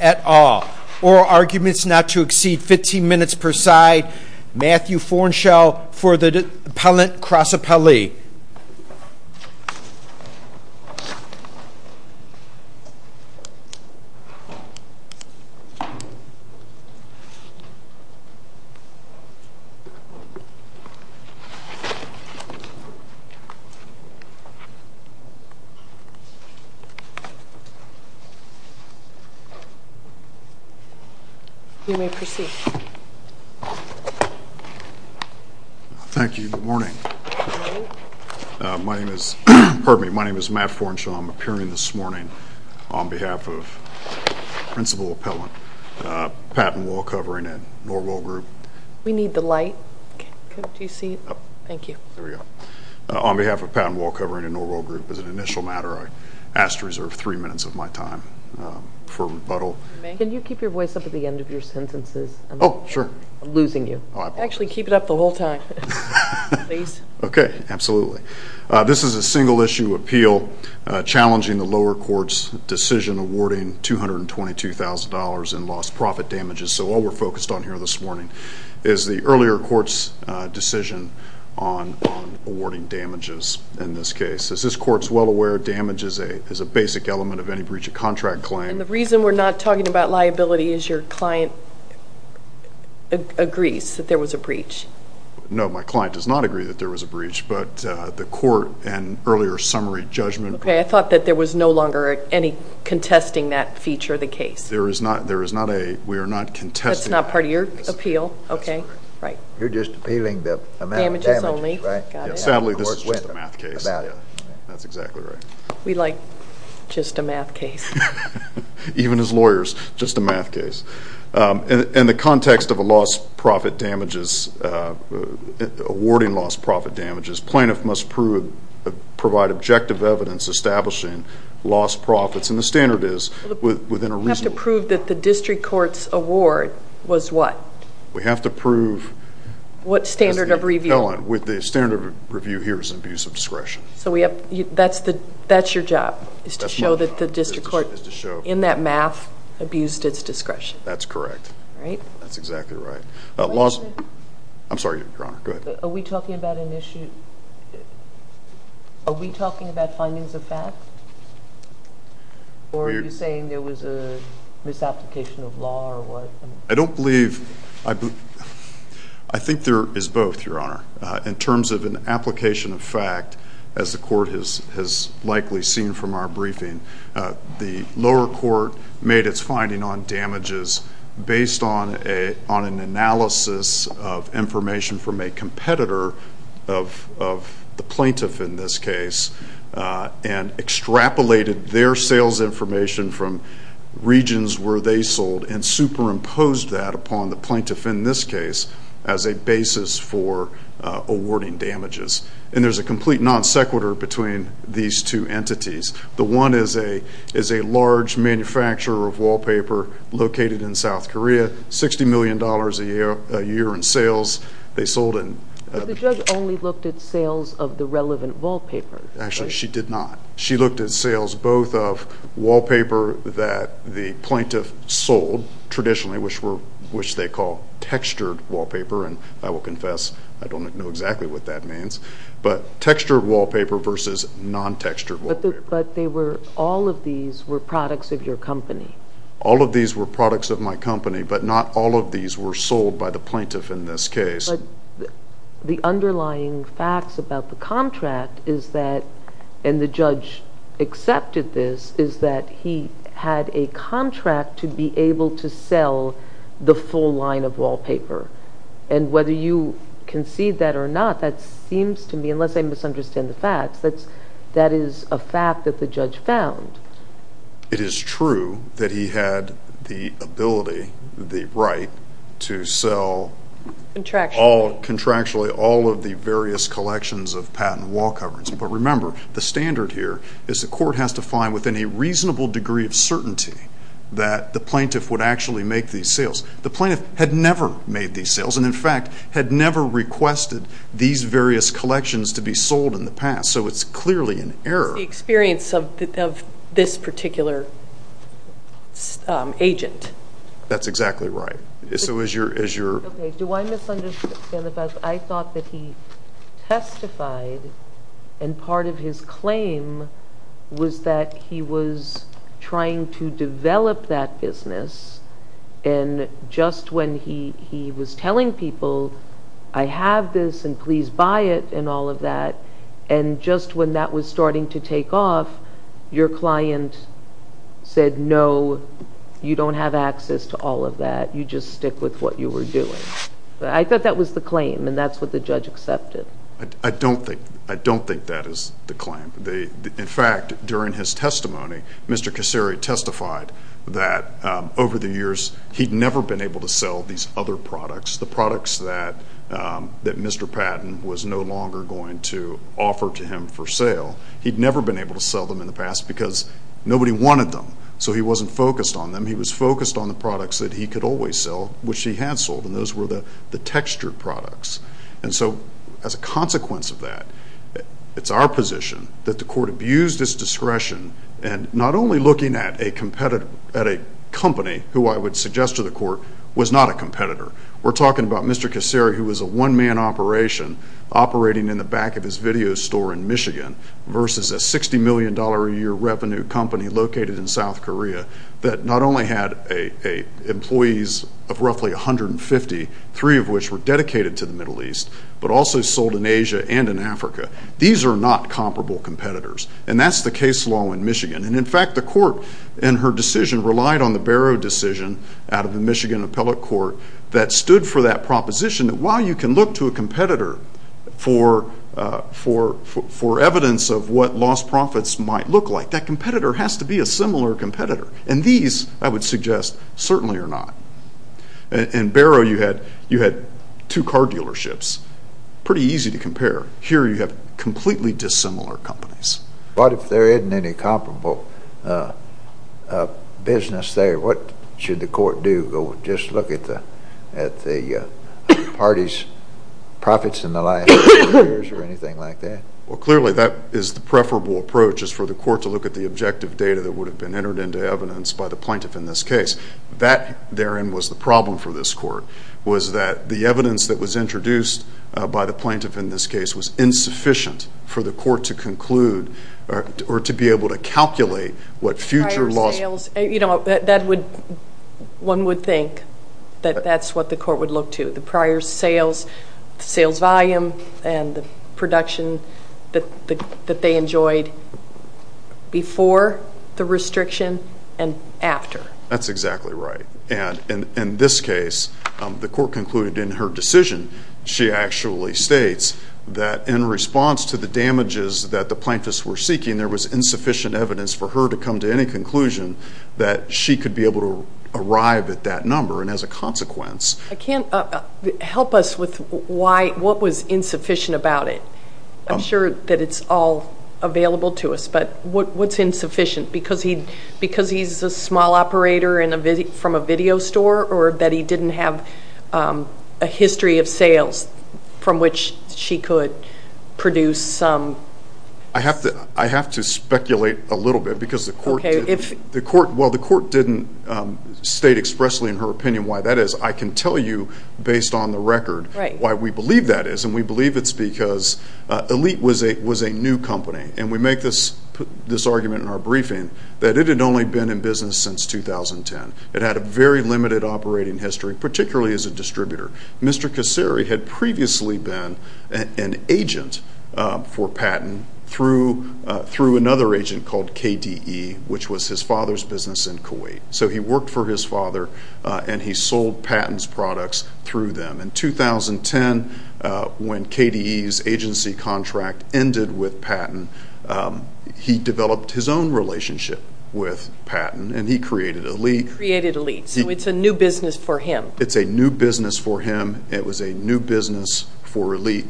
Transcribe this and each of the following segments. at all. Oral arguments not to exceed 15 minutes per side. Matthew Fornshell for the Appellant Cross Appellee. You may proceed. Thank you. Good morning. My name is Matt Fornshell. I'm appearing this morning on behalf of Principal Appellant Patton Wallcovering at Norwell Group. We need the light. On behalf of Patton Wallcovering at Norwell Group, as an initial matter, I ask to reserve three minutes of my time for rebuttal. Can you keep your voice up at the end of your sentences? I'm losing you. Actually, keep it up the whole time. Okay, absolutely. This is a single-issue appeal challenging the lower court's decision awarding $222,000 in lost profit damages. So all we're focused on here this morning is the earlier court's decision on awarding damages in this case. As this court is well aware, damage is a basic element of any breach of contract claim. And the reason we're not talking about liability is your client agrees that there was a breach? No, my client does not agree that there was a breach, but the court and earlier summary judgment... Okay, I thought that there was no longer any contesting that feature of the case. There is not a... we are not contesting... That's not part of your appeal? That's correct. Okay, right. You're just appealing the amount of damages, right? Damages only. Sadly, this is just a math case. That's exactly right. We like just a math case. Even as lawyers, just a math case. In the context of awarding lost profit damages, plaintiff must provide objective evidence establishing lost profits. And the standard is within a reasonable... We have to prove that the district court's award was what? We have to prove... What standard of review? Ellen, the standard of review here is abuse of discretion. That's your job is to show that the district court, in that math, abused its discretion. That's correct. Right? That's exactly right. I'm sorry, Your Honor. Go ahead. Are we talking about an issue... are we talking about findings of fact? Or are you saying there was a misapplication of law or what? I don't believe... I think there is both, Your Honor. In terms of an application of fact, as the court has likely seen from our briefing, the lower court made its finding on damages based on an analysis of information from a competitor of the plaintiff in this case and extrapolated their sales information from regions where they sold and superimposed that upon the plaintiff in this case as a basis for awarding damages. And there's a complete non sequitur between these two entities. The one is a large manufacturer of wallpaper located in South Korea, $60 million a year in sales. They sold in... But the judge only looked at sales of the relevant wallpaper. Actually, she did not. She looked at sales both of wallpaper that the plaintiff sold traditionally, which they call textured wallpaper, and I will confess I don't know exactly what that means, but textured wallpaper versus non textured wallpaper. But all of these were products of your company. All of these were products of my company, but not all of these were sold by the plaintiff in this case. But the underlying facts about the contract is that, and the judge accepted this, is that he had a contract to be able to sell the full line of wallpaper. And whether you concede that or not, that seems to me, unless I misunderstand the facts, that is a fact that the judge found. It is true that he had the ability, the right, to sell contractually all of the various collections of patent wall coverings. But remember, the standard here is the court has to find within a reasonable degree of certainty that the plaintiff would actually make these sales. The plaintiff had never made these sales and, in fact, had never requested these various collections to be sold in the past. So it's clearly an error. That's the experience of this particular agent. That's exactly right. So as your Okay, do I misunderstand the facts? I thought that he testified, and part of his claim was that he was trying to develop that business. And just when he was telling people, I have this, and please buy it, and all of that, and just when that was starting to take off, your client said, no, you don't have access to all of that. You just stick with what you were doing. I thought that was the claim, and that's what the judge accepted. I don't think that is the claim. In fact, during his testimony, Mr. Kasseri testified that over the years, he'd never been able to sell these other products, the products that Mr. Patton was no longer going to offer to him for sale. He'd never been able to sell them in the past because nobody wanted them. So he wasn't focused on them. He was focused on the products that he could always sell, which he had sold, and those were the textured products. And so as a consequence of that, it's our position that the court abused its discretion and not only looking at a company who I would suggest to the court was not a competitor. We're talking about Mr. Kasseri, who was a one-man operation operating in the back of his video store in Michigan versus a $60 million a year revenue company located in South Korea that not only had employees of roughly 150, three of which were dedicated to the Middle East, but also sold in Asia and in Africa. These are not comparable competitors. And that's the case law in Michigan. And, in fact, the court in her decision relied on the Barrow decision out of the Michigan Appellate Court that stood for that proposition that while you can look to a competitor for evidence of what lost profits might look like, that competitor has to be a similar competitor. And these, I would suggest, certainly are not. In Barrow, you had two car dealerships. Pretty easy to compare. Here, you have completely dissimilar companies. But if there isn't any comparable business there, what should the court do? Go just look at the party's profits in the last few years or anything like that? Well, clearly, that is the preferable approach is for the court to look at the objective data that would have been entered into evidence by the plaintiff in this case. That, therein, was the problem for this court, was that the evidence that was introduced by the plaintiff in this case was insufficient for the court to conclude or to be able to calculate what future loss. You know, one would think that that's what the court would look to, the prior sales, sales volume, and the production that they enjoyed before the restriction and after. That's exactly right. And in this case, the court concluded in her decision, she actually states that in response to the damages that the plaintiffs were seeking, there was insufficient evidence for her to come to any conclusion that she could be able to arrive at that number, and as a consequence. I can't help us with what was insufficient about it. I'm sure that it's all available to us, but what's insufficient? Because he's a small operator from a video store, or that he didn't have a history of sales from which she could produce some? I have to speculate a little bit because the court didn't state expressly in her opinion why that is. I can tell you based on the record why we believe that is, and we believe it's because Elite was a new company, and we make this argument in our briefing that it had only been in business since 2010. It had a very limited operating history, particularly as a distributor. Mr. Kasseri had previously been an agent for Patton through another agent called KDE, which was his father's business in Kuwait. So he worked for his father, and he sold Patton's products through them. In 2010, when KDE's agency contract ended with Patton, he developed his own relationship with Patton, and he created Elite. He created Elite, so it's a new business for him. It's a new business for him. It was a new business for Elite,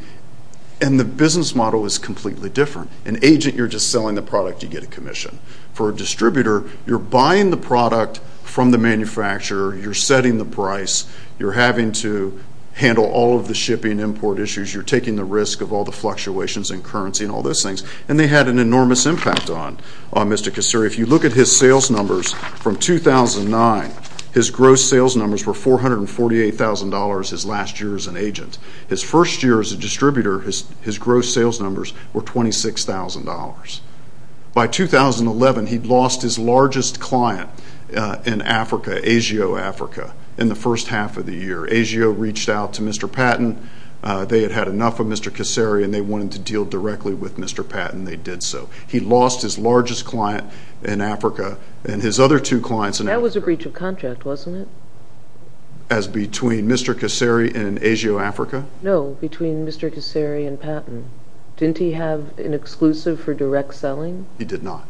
and the business model is completely different. An agent, you're just selling the product. You get a commission. For a distributor, you're buying the product from the manufacturer. You're setting the price. You're having to handle all of the shipping import issues. You're taking the risk of all the fluctuations in currency and all those things, and they had an enormous impact on Mr. Kasseri. If you look at his sales numbers from 2009, his gross sales numbers were $448,000 his last year as an agent. His first year as a distributor, his gross sales numbers were $26,000. By 2011, he'd lost his largest client in Africa, ASIO Africa, in the first half of the year. ASIO reached out to Mr. Patton. They had had enough of Mr. Kasseri, and they wanted to deal directly with Mr. Patton. They did so. He lost his largest client in Africa and his other two clients in Africa. That was a breach of contract, wasn't it? As between Mr. Kasseri and ASIO Africa? No, between Mr. Kasseri and Patton. Didn't he have an exclusive for direct selling? He did not.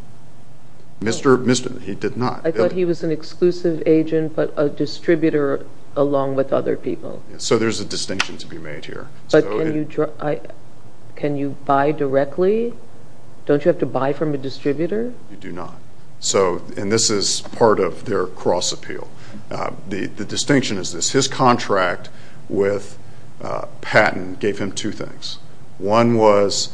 He did not. I thought he was an exclusive agent but a distributor along with other people. So there's a distinction to be made here. But can you buy directly? Don't you have to buy from a distributor? You do not. And this is part of their cross-appeal. The distinction is this. His contract with Patton gave him two things. One was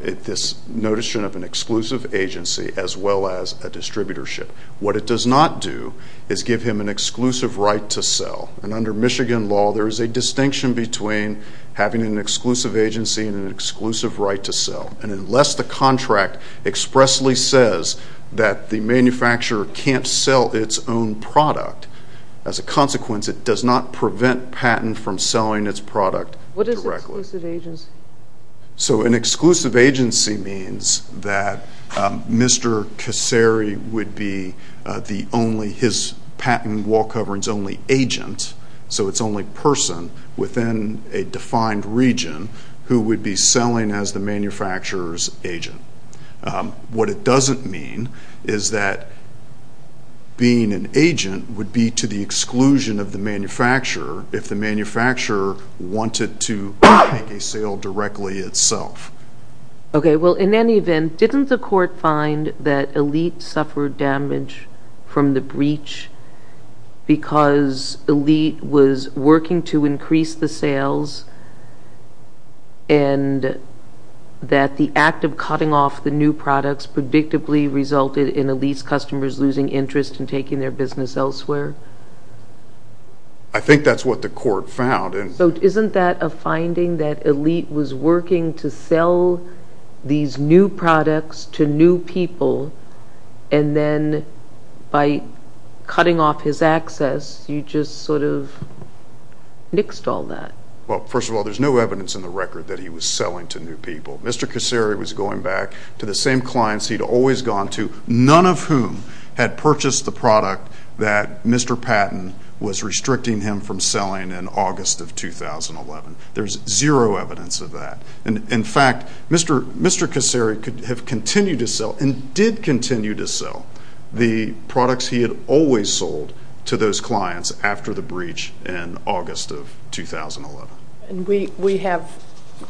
this notation of an exclusive agency as well as a distributorship. What it does not do is give him an exclusive right to sell. And under Michigan law, there is a distinction between having an exclusive agency and an exclusive right to sell. And unless the contract expressly says that the manufacturer can't sell its own product, as a consequence, it does not prevent Patton from selling its product directly. An exclusive agency. So an exclusive agency means that Mr. Kasseri would be his patent wall coverings only agent, so it's only person within a defined region who would be selling as the manufacturer's agent. What it doesn't mean is that being an agent would be to the exclusion of the manufacturer if the manufacturer wanted to make a sale directly itself. Okay, well, in any event, didn't the court find that Elite suffered damage from the breach because Elite was working to increase the sales and that the act of cutting off the new products predictably resulted in Elite's customers losing interest in taking their business elsewhere? I think that's what the court found. So isn't that a finding that Elite was working to sell these new products to new people and then by cutting off his access, you just sort of nixed all that? Well, first of all, there's no evidence in the record that he was selling to new people. Mr. Kasseri was going back to the same clients he'd always gone to, none of whom had purchased the product that Mr. Patton was restricting him from selling in August of 2011. There's zero evidence of that. In fact, Mr. Kasseri could have continued to sell and did continue to sell the products he had always sold to those clients after the breach in August of 2011.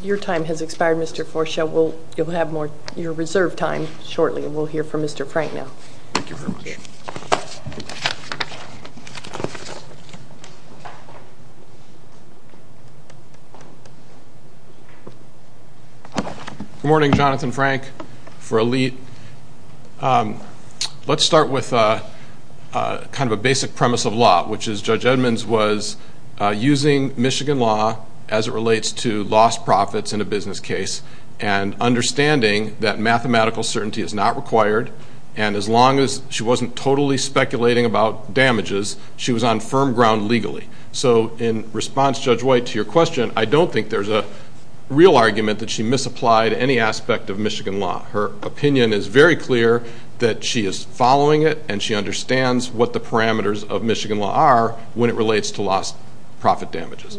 Your time has expired, Mr. Forshell. You'll have your reserved time shortly, and we'll hear from Mr. Frank now. Thank you very much. Good morning, Jonathan Frank for Elite. Let's start with kind of a basic premise of law, which is Judge Edmonds was using Michigan law as it relates to lost profits in a business case and understanding that mathematical certainty is not required, and as long as she wasn't totally speculating about damages, she was on firm ground legally. So in response, Judge White, to your question, I don't think there's a real argument that she misapplied any aspect of Michigan law. Her opinion is very clear that she is following it, and she understands what the parameters of Michigan law are when it relates to lost profit damages.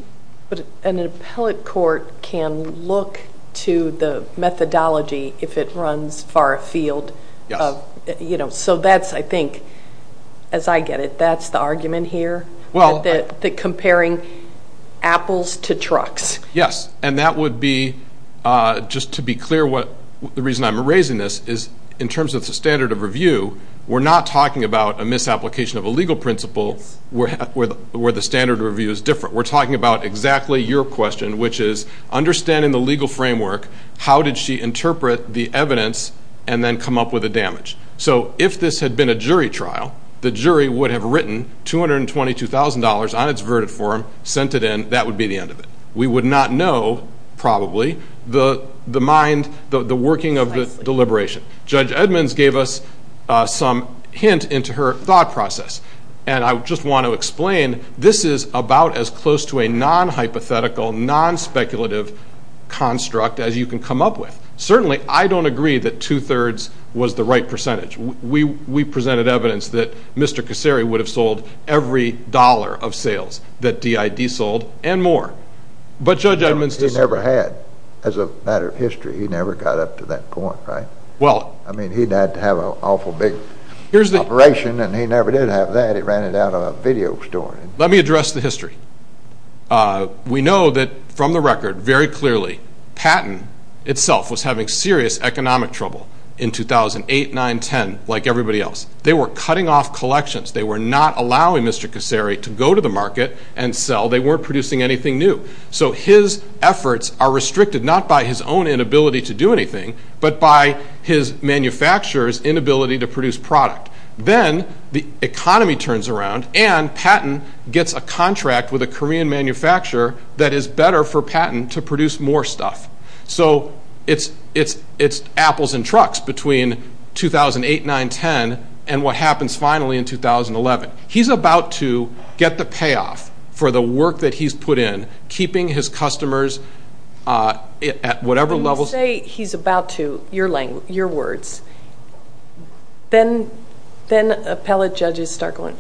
But an appellate court can look to the methodology if it runs far afield. Yes. So that's, I think, as I get it, that's the argument here, that comparing apples to trucks. Yes, and that would be, just to be clear, the reason I'm raising this is in terms of the standard of review, we're not talking about a misapplication of a legal principle where the standard of review is different. We're talking about exactly your question, which is understanding the legal framework, how did she interpret the evidence and then come up with a damage? So if this had been a jury trial, the jury would have written $222,000 on its verdict form, sent it in. That would be the end of it. We would not know, probably, the mind, the working of the deliberation. Judge Edmonds gave us some hint into her thought process, and I just want to explain this is about as close to a non-hypothetical, non-speculative construct as you can come up with. Certainly, I don't agree that two-thirds was the right percentage. We presented evidence that Mr. Kasary would have sold every dollar of sales that DID sold and more. But Judge Edmonds disagreed. He never had, as a matter of history. He never got up to that point, right? I mean, he died to have an awful big operation, and he never did have that. He ran it out of a video store. Let me address the history. We know that, from the record, very clearly, Patton itself was having serious economic trouble in 2008, 9, 10, like everybody else. They were cutting off collections. They were not allowing Mr. Kasary to go to the market and sell. They weren't producing anything new. So his efforts are restricted not by his own inability to do anything, but by his manufacturer's inability to produce product. Then the economy turns around, and Patton gets a contract with a Korean manufacturer that is better for Patton to produce more stuff. So it's apples and trucks between 2008, 9, 10, and what happens finally in 2011. He's about to get the payoff for the work that he's put in, keeping his customers at whatever level. When you say he's about to, your words, then appellate judges start going,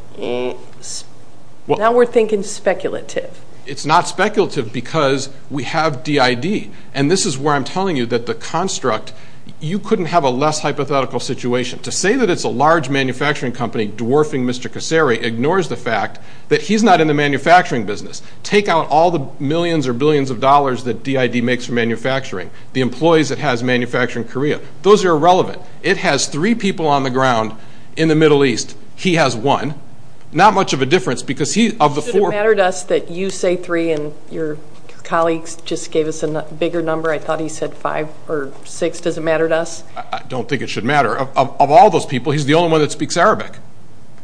now we're thinking speculative. It's not speculative because we have DID, and this is where I'm telling you that the construct, you couldn't have a less hypothetical situation. To say that it's a large manufacturing company dwarfing Mr. Kasary ignores the fact that he's not in the manufacturing business. Take out all the millions or billions of dollars that DID makes for manufacturing, the employees it has manufacturing Korea. Those are irrelevant. It has three people on the ground in the Middle East. He has one. Not much of a difference because he, of the four. Should it matter to us that you say three and your colleagues just gave us a bigger number? I thought he said five or six. Does it matter to us? I don't think it should matter. Of all those people, he's the only one that speaks Arabic.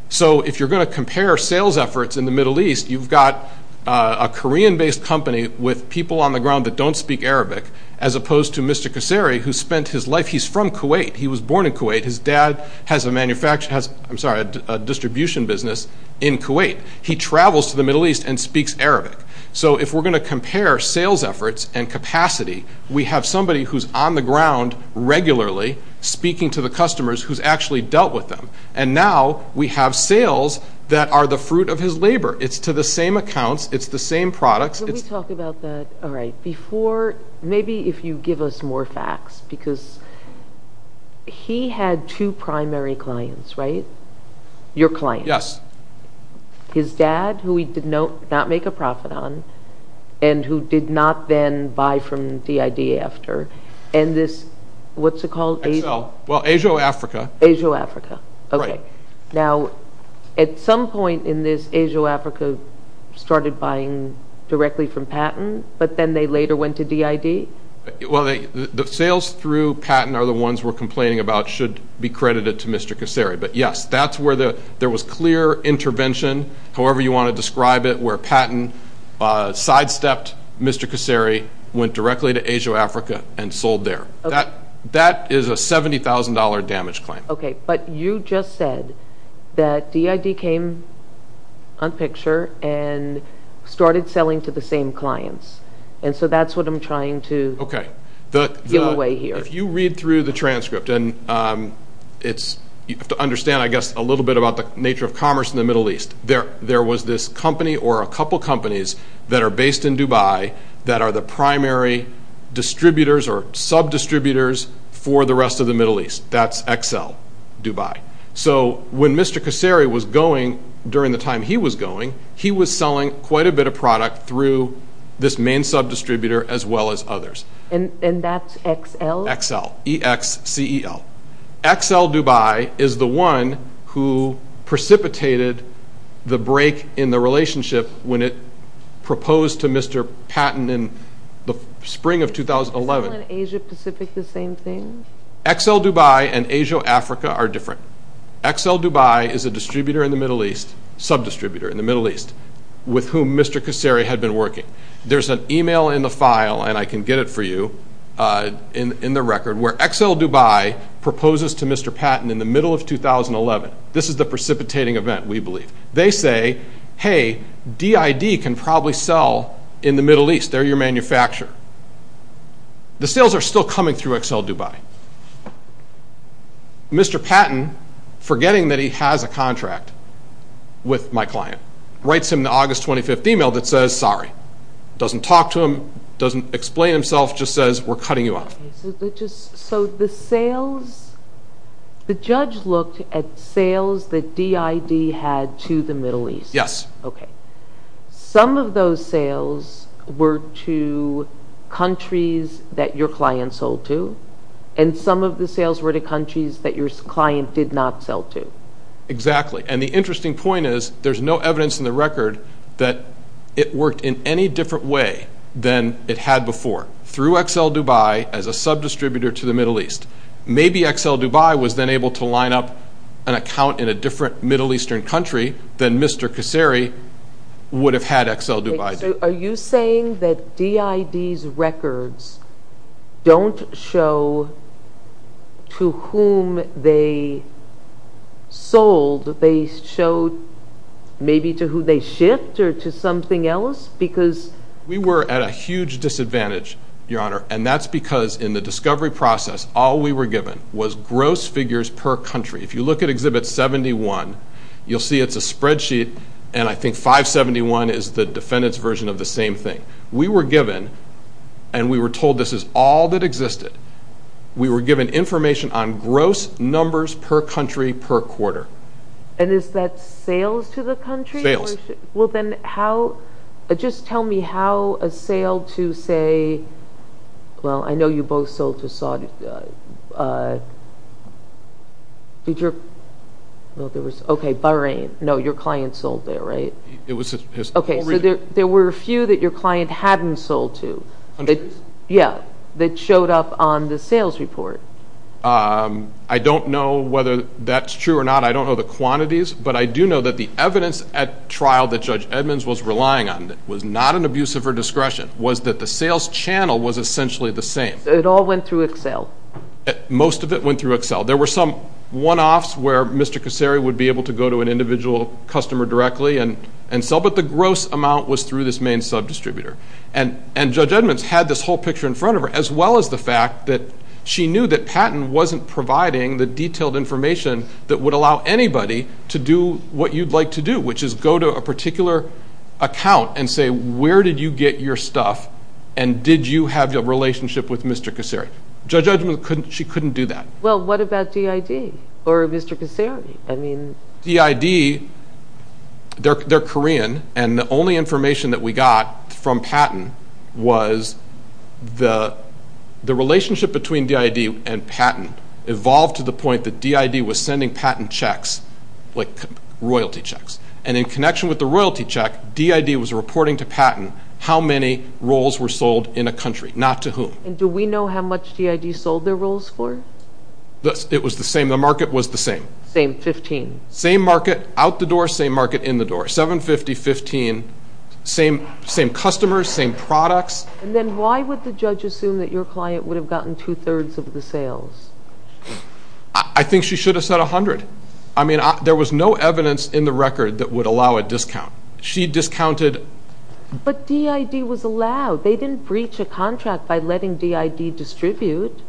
So if you're going to compare sales efforts in the Middle East, you've got a Korean-based company with people on the ground that don't speak Arabic, as opposed to Mr. Kasary who spent his life, he's from Kuwait. He was born in Kuwait. His dad has a distribution business in Kuwait. He travels to the Middle East and speaks Arabic. So if we're going to compare sales efforts and capacity, we have somebody who's on the ground regularly speaking to the customers who's actually dealt with them. And now we have sales that are the fruit of his labor. It's to the same accounts. It's the same products. Can we talk about that? All right. Before, maybe if you give us more facts because he had two primary clients, right? Your client. Yes. His dad who he did not make a profit on and who did not then buy from DID after. And this, what's it called? Excel. Well, Asia or Africa? Asia or Africa. Right. Okay. Now, at some point in this, Asia or Africa started buying directly from Patton, but then they later went to DID? Well, the sales through Patton are the ones we're complaining about should be credited to Mr. Kasary. But, yes, that's where there was clear intervention, however you want to describe it, where Patton sidestepped Mr. Kasary, went directly to Asia or Africa, and sold there. That is a $70,000 damage claim. Okay. But you just said that DID came on picture and started selling to the same clients. And so that's what I'm trying to give away here. Okay. If you read through the transcript, and you have to understand, I guess, a little bit about the nature of commerce in the Middle East. There was this company or a couple companies that are based in Dubai that are the primary distributors or sub-distributors for the rest of the Middle East. That's Excel, Dubai. So when Mr. Kasary was going, during the time he was going, he was selling quite a bit of product through this main sub-distributor as well as others. And that's Excel? Excel, E-X-C-E-L. Excel, Dubai is the one who precipitated the break in the relationship when it proposed to Mr. Patton in the spring of 2011. Is Excel and Asia Pacific the same thing? Excel, Dubai and Asia, Africa are different. Excel, Dubai is a distributor in the Middle East, sub-distributor in the Middle East, with whom Mr. Kasary had been working. There's an e-mail in the file, and I can get it for you in the record, where Excel, Dubai proposes to Mr. Patton in the middle of 2011. This is the precipitating event, we believe. They say, hey, DID can probably sell in the Middle East. They're your manufacturer. The sales are still coming through Excel, Dubai. Mr. Patton, forgetting that he has a contract with my client, writes him an August 25th e-mail that says, sorry. Doesn't talk to him, doesn't explain himself, just says, we're cutting you off. So the sales, the judge looked at sales that DID had to the Middle East. Yes. Okay. Some of those sales were to countries that your client sold to, and some of the sales were to countries that your client did not sell to. Exactly. And the interesting point is, there's no evidence in the record that it worked in any different way than it had before. Through Excel, Dubai, as a subdistributor to the Middle East. Maybe Excel, Dubai was then able to line up an account in a different Middle Eastern country than Mr. Kasseri would have had Excel, Dubai do. Are you saying that DID's records don't show to whom they sold? They showed maybe to who they shift or to something else? We were at a huge disadvantage, Your Honor, and that's because in the discovery process, all we were given was gross figures per country. If you look at Exhibit 71, you'll see it's a spreadsheet, and I think 571 is the defendant's version of the same thing. We were given, and we were told this is all that existed, we were given information on gross numbers per country per quarter. And is that sales to the country? Sales. Well then, just tell me how a sale to, say, well, I know you both sold to Saudi. Okay, Bahrain. No, your client sold there, right? Okay, so there were a few that your client hadn't sold to. Hundreds? Yeah, that showed up on the sales report. I don't know whether that's true or not, I don't know the quantities, but I do know that the evidence at trial that Judge Edmonds was relying on was not an abuse of her discretion, was that the sales channel was essentially the same. So it all went through Excel? Most of it went through Excel. There were some one-offs where Mr. Kosseri would be able to go to an individual customer directly and sell, but the gross amount was through this main subdistributor. And Judge Edmonds had this whole picture in front of her, as well as the fact that she knew that Patton wasn't providing the detailed information that would allow anybody to do what you'd like to do, which is go to a particular account and say, where did you get your stuff and did you have a relationship with Mr. Kosseri? Judge Edmonds, she couldn't do that. Well, what about DID or Mr. Kosseri? DID, they're Korean, and the only information that we got from Patton was the relationship between DID and Patton evolved to the point that DID was sending Patton checks, like royalty checks. And in connection with the royalty check, DID was reporting to Patton how many rolls were sold in a country, not to whom. And do we know how much DID sold their rolls for? It was the same. The market was the same. Same 15. Same market out the door, same market in the door. 750, 15. Same customers, same products. And then why would the judge assume that your client would have gotten two-thirds of the sales? I think she should have said 100. I mean, there was no evidence in the record that would allow a discount. She discounted. But DID was allowed. They didn't breach a contract by letting DID distribute.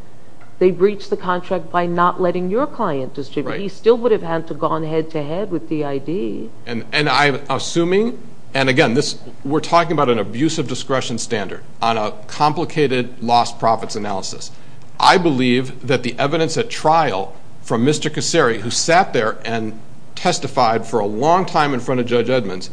They breached the contract by not letting your client distribute. He still would have had to have gone head-to-head with DID. And I'm assuming, and again, we're talking about an abusive discretion standard on a complicated lost profits analysis. I believe that the evidence at trial from Mr. Kasary, who sat there and testified for a long time in front of Judge Edmonds,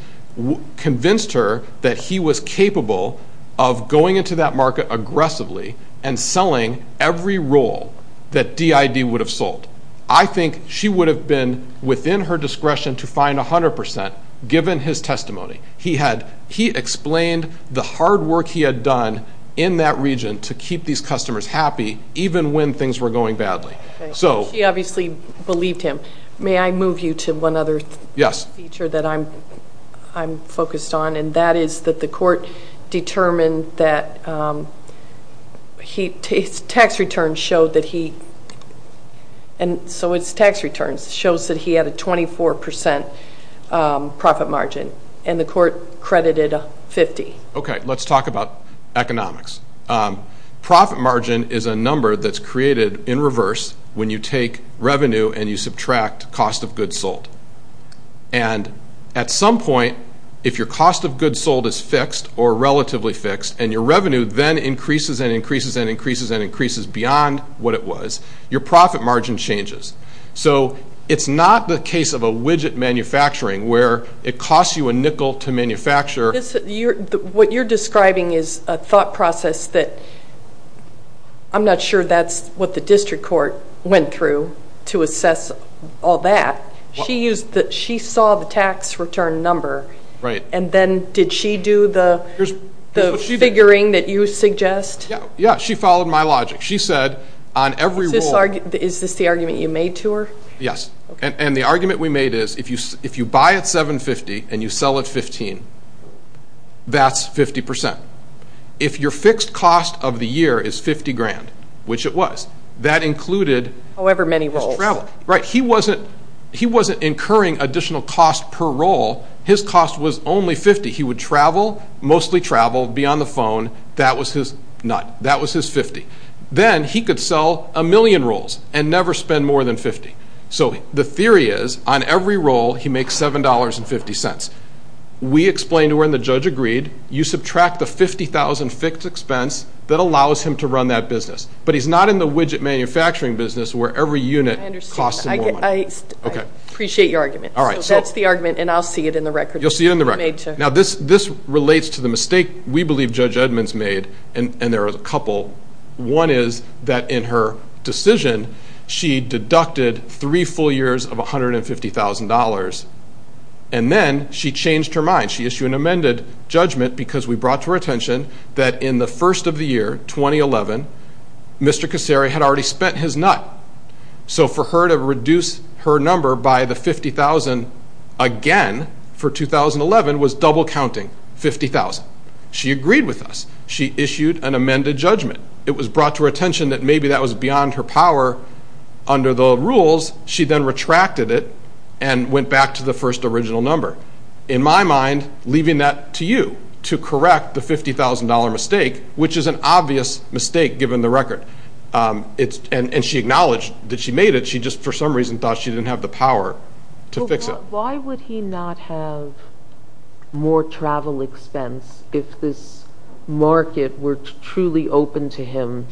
convinced her that he was capable of going into that market aggressively and selling every roll that DID would have sold. I think she would have been within her discretion to find 100% given his testimony. He explained the hard work he had done in that region to keep these customers happy even when things were going badly. She obviously believed him. May I move you to one other feature that I'm focused on, and that is that the court determined that his tax returns showed that he had a 24% profit margin, and the court credited 50%. Okay, let's talk about economics. Profit margin is a number that's created in reverse when you take revenue and you subtract cost of goods sold. And at some point, if your cost of goods sold is fixed or relatively fixed and your revenue then increases and increases and increases and increases beyond what it was, your profit margin changes. So it's not the case of a widget manufacturing where it costs you a nickel to manufacture. What you're describing is a thought process that I'm not sure that's what the district court went through to assess all that. She saw the tax return number, and then did she do the figuring that you suggest? Yeah, she followed my logic. She said on every rule. Is this the argument you made to her? Yes, and the argument we made is if you buy at $750,000 and you sell at $15,000, that's 50%. If your fixed cost of the year is $50,000, which it was, that included his travel. However many rolls. Right. He wasn't incurring additional cost per roll. His cost was only 50. He would travel, mostly travel, be on the phone. That was his 50. Then he could sell a million rolls and never spend more than 50. So the theory is on every roll, he makes $7.50. We explained to her and the judge agreed. You subtract the 50,000 fixed expense that allows him to run that business. But he's not in the widget manufacturing business where every unit costs more. I appreciate your argument. So that's the argument, and I'll see it in the record. You'll see it in the record. Now, this relates to the mistake we believe Judge Edmonds made, and there are a couple. One is that in her decision, she deducted three full years of $150,000, and then she changed her mind. She issued an amended judgment because we brought to her attention that in the first of the year, 2011, Mr. Cassari had already spent his nut. So for her to reduce her number by the 50,000 again for 2011 was double counting, 50,000. She agreed with us. She issued an amended judgment. It was brought to her attention that maybe that was beyond her power under the rules. She then retracted it and went back to the first original number. In my mind, leaving that to you to correct the $50,000 mistake, which is an obvious mistake given the record. And she acknowledged that she made it. She just for some reason thought she didn't have the power to fix it. Why would he not have more travel expense if this market were truly open to him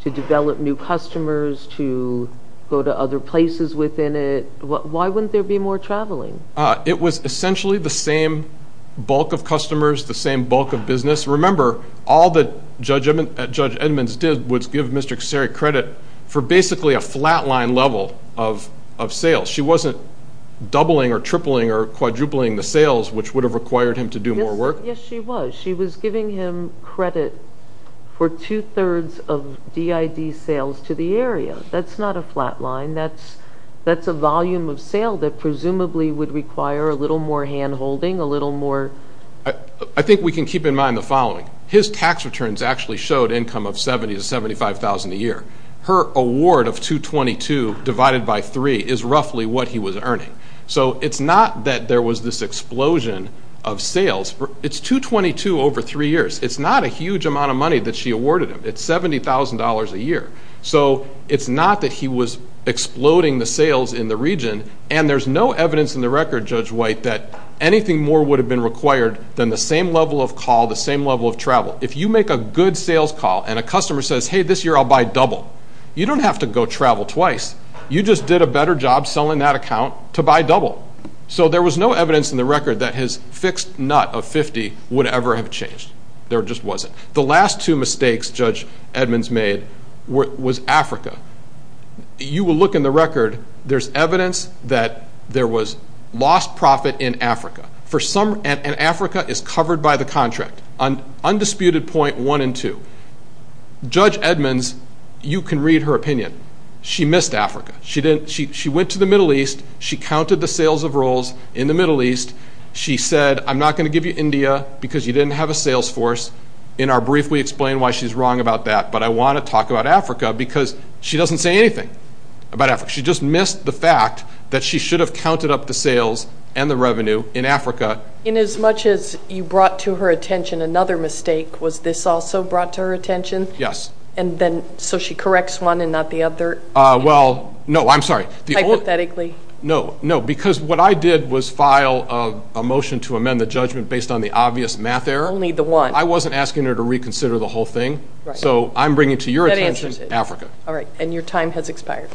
to develop new customers, to go to other places within it? Why wouldn't there be more traveling? It was essentially the same bulk of customers, the same bulk of business. Remember, all that Judge Edmonds did was give Mr. Cassari credit for basically a flatline level of sales. She wasn't doubling or tripling or quadrupling the sales, which would have required him to do more work. Yes, she was. She was giving him credit for two-thirds of DID sales to the area. That's not a flatline. That's a volume of sale that presumably would require a little more hand-holding, a little more. I think we can keep in mind the following. His tax returns actually showed income of $70,000 to $75,000 a year. Her award of $222,000 divided by three is roughly what he was earning. So it's not that there was this explosion of sales. It's $222,000 over three years. It's not a huge amount of money that she awarded him. It's $70,000 a year. So it's not that he was exploding the sales in the region, and there's no evidence in the record, Judge White, that anything more would have been required than the same level of call, the same level of travel. If you make a good sales call and a customer says, hey, this year I'll buy double, you don't have to go travel twice. You just did a better job selling that account to buy double. So there was no evidence in the record that his fixed nut of $50,000 would ever have changed. There just wasn't. The last two mistakes Judge Edmonds made was Africa. You will look in the record. There's evidence that there was lost profit in Africa, and Africa is covered by the contract, undisputed point one and two. Judge Edmonds, you can read her opinion. She missed Africa. She went to the Middle East. She counted the sales of rolls in the Middle East. She said, I'm not going to give you India because you didn't have a sales force. In our brief, we explain why she's wrong about that, but I want to talk about Africa because she doesn't say anything about Africa. She just missed the fact that she should have counted up the sales and the revenue in Africa. And as much as you brought to her attention another mistake, was this also brought to her attention? Yes. And then so she corrects one and not the other? Well, no, I'm sorry. Hypothetically. No, no, because what I did was file a motion to amend the judgment based on the obvious math error. Only the one. I wasn't asking her to reconsider the whole thing. So I'm bringing to your attention Africa. All right, and your time has expired.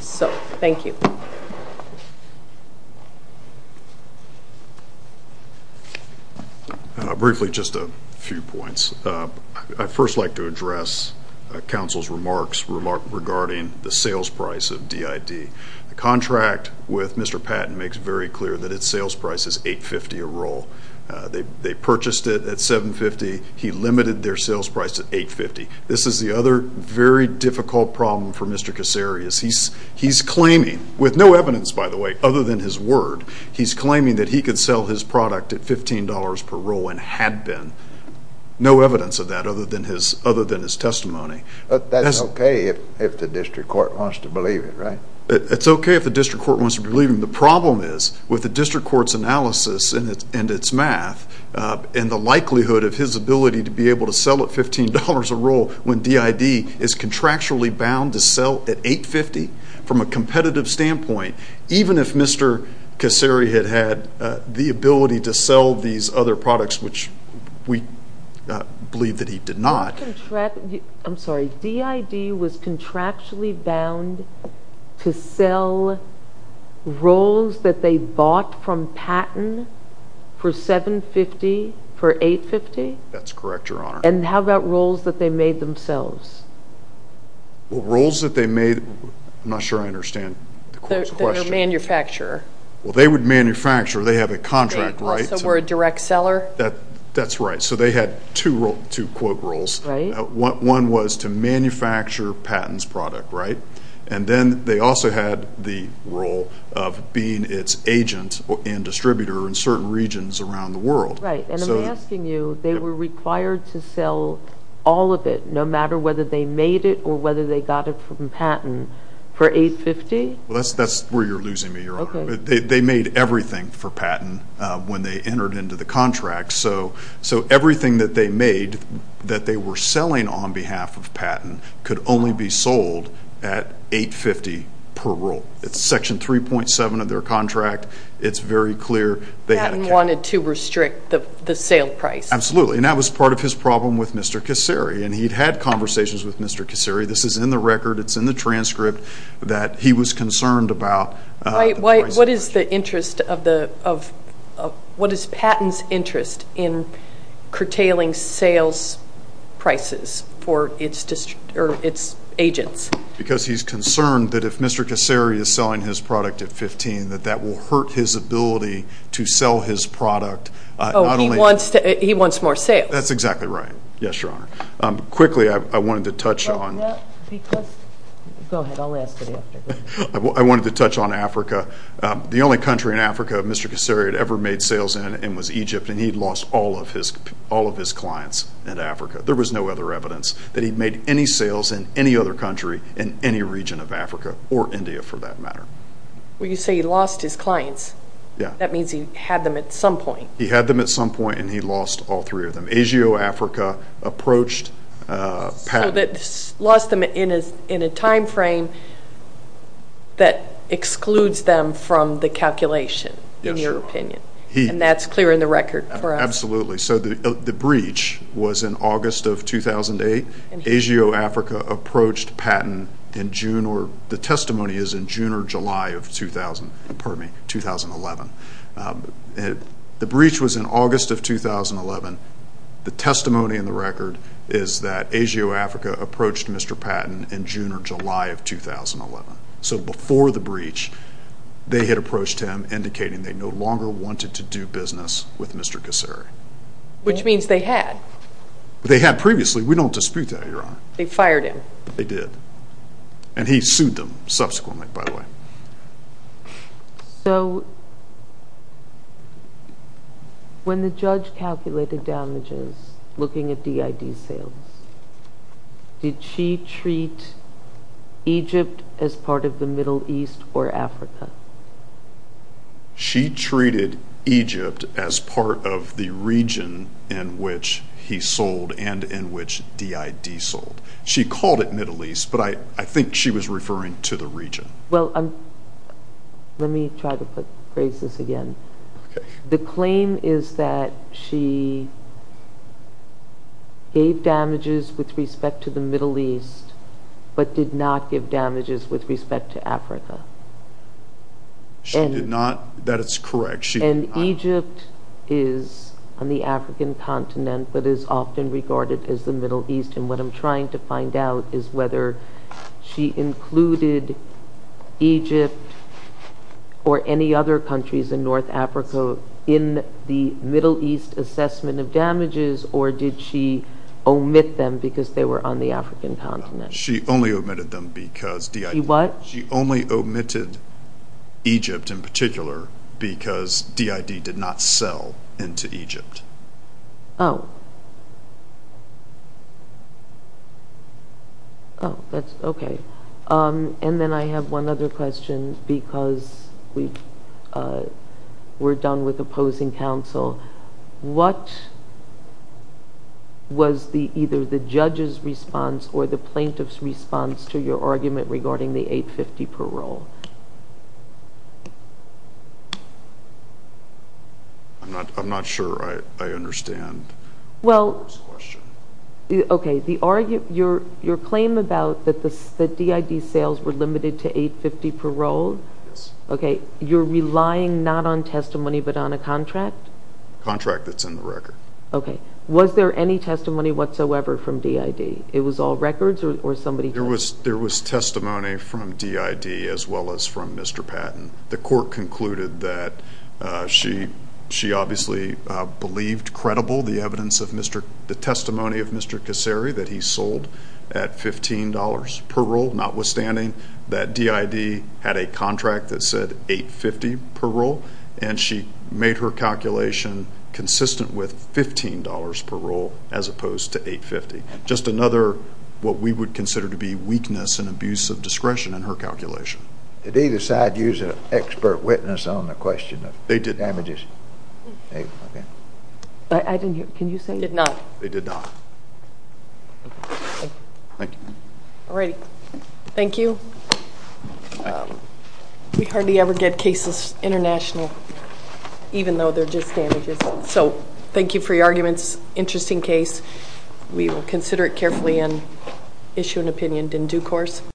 So thank you. Briefly, just a few points. I'd first like to address counsel's remarks regarding the sales price of DID. The contract with Mr. Patton makes very clear that its sales price is $8.50 a roll. They purchased it at $7.50. He limited their sales price to $8.50. This is the other very difficult problem for Mr. Kasseri. He's claiming, with no evidence, by the way, other than his word, he's claiming that he could sell his product at $15 per roll and had been. No evidence of that other than his testimony. That's okay if the district court wants to believe it, right? It's okay if the district court wants to believe him. The problem is with the district court's analysis and its math and the likelihood of his ability to be able to sell at $15 a roll when DID is contractually bound to sell at $8.50 from a competitive standpoint, even if Mr. Kasseri had had the ability to sell these other products, which we believe that he did not. I'm sorry. DID was contractually bound to sell rolls that they bought from Patton for $7.50, for $8.50? That's correct, Your Honor. And how about rolls that they made themselves? Rolls that they made? I'm not sure I understand the question. They're a manufacturer. Well, they would manufacture. They have a contract, right? So we're a direct seller? That's right. So they had two, quote, rolls. Right. One was to manufacture Patton's product, right? And then they also had the role of being its agent and distributor in certain regions around the world. Right. And I'm asking you, they were required to sell all of it, no matter whether they made it or whether they got it from Patton, for $8.50? Well, that's where you're losing me, Your Honor. They made everything for Patton when they entered into the contract. So everything that they made that they were selling on behalf of Patton could only be sold at $8.50 per roll. It's Section 3.7 of their contract. It's very clear. Patton wanted to restrict the sale price. Absolutely. And that was part of his problem with Mr. Kasseri. And he'd had conversations with Mr. Kasseri. This is in the record. It's in the transcript that he was concerned about the price of the product. What is Patton's interest in curtailing sales prices for its agents? Because he's concerned that if Mr. Kasseri is selling his product at $15,000, that that will hurt his ability to sell his product. Oh, he wants more sales. That's exactly right. Yes, Your Honor. Quickly, I wanted to touch on Africa. The only country in Africa Mr. Kasseri had ever made sales in was Egypt, and he'd lost all of his clients in Africa. There was no other evidence that he'd made any sales in any other country in any region of Africa, or India for that matter. Well, you say he lost his clients. That means he had them at some point. He had them at some point, and he lost all three of them. Asia, Africa, approached Patton. So he lost them in a time frame that excludes them from the calculation, in your opinion, and that's clear in the record for us. Absolutely. So the breach was in August of 2008. Asia, Africa approached Patton in June, or the testimony is in June or July of 2011. The breach was in August of 2011. The testimony in the record is that Asia, Africa approached Mr. Patton in June or July of 2011. So before the breach, they had approached him, indicating they no longer wanted to do business with Mr. Kasseri. Which means they had. They had previously. We don't dispute that, Your Honor. They fired him. They did. And he sued them subsequently, by the way. So when the judge calculated damages, looking at DID sales, did she treat Egypt as part of the Middle East or Africa? She treated Egypt as part of the region in which he sold and in which DID sold. She called it Middle East, but I think she was referring to the region. Well, let me try to phrase this again. Okay. The claim is that she gave damages with respect to the Middle East, but did not give damages with respect to Africa. She did not? That is correct. And Egypt is on the African continent, but is often regarded as the Middle East. And what I'm trying to find out is whether she included Egypt or any other countries in North Africa in the Middle East assessment of damages, or did she omit them because they were on the African continent? She only omitted them because DID. She what? She only omitted Egypt in particular because DID did not sell into Egypt. Oh. Okay. And then I have one other question because we're done with opposing counsel. What was either the judge's response or the plaintiff's response to your argument regarding the 850 parole? I'm not sure I understand the question. Okay. Your claim about the DID sales were limited to 850 parole? Yes. Okay. You're relying not on testimony but on a contract? Contract that's in the record. Okay. Was there any testimony whatsoever from DID? It was all records or somebody? There was testimony from DID as well as from Mr. Patton. The court concluded that she obviously believed credible the evidence of Mr. The testimony of Mr. Kasary that he sold at $15 parole notwithstanding that DID had a contract that said 850 parole, and she made her calculation consistent with $15 parole as opposed to 850. Just another what we would consider to be weakness and abuse of discretion in her calculation. Did either side use an expert witness on the question of damages? They did not. Okay. I didn't hear. Can you say? They did not. They did not. Thank you. All right. Thank you. We hardly ever get cases international even though they're just damages. So thank you for your arguments. Interesting case. We will consider it carefully and issue an opinion in due course.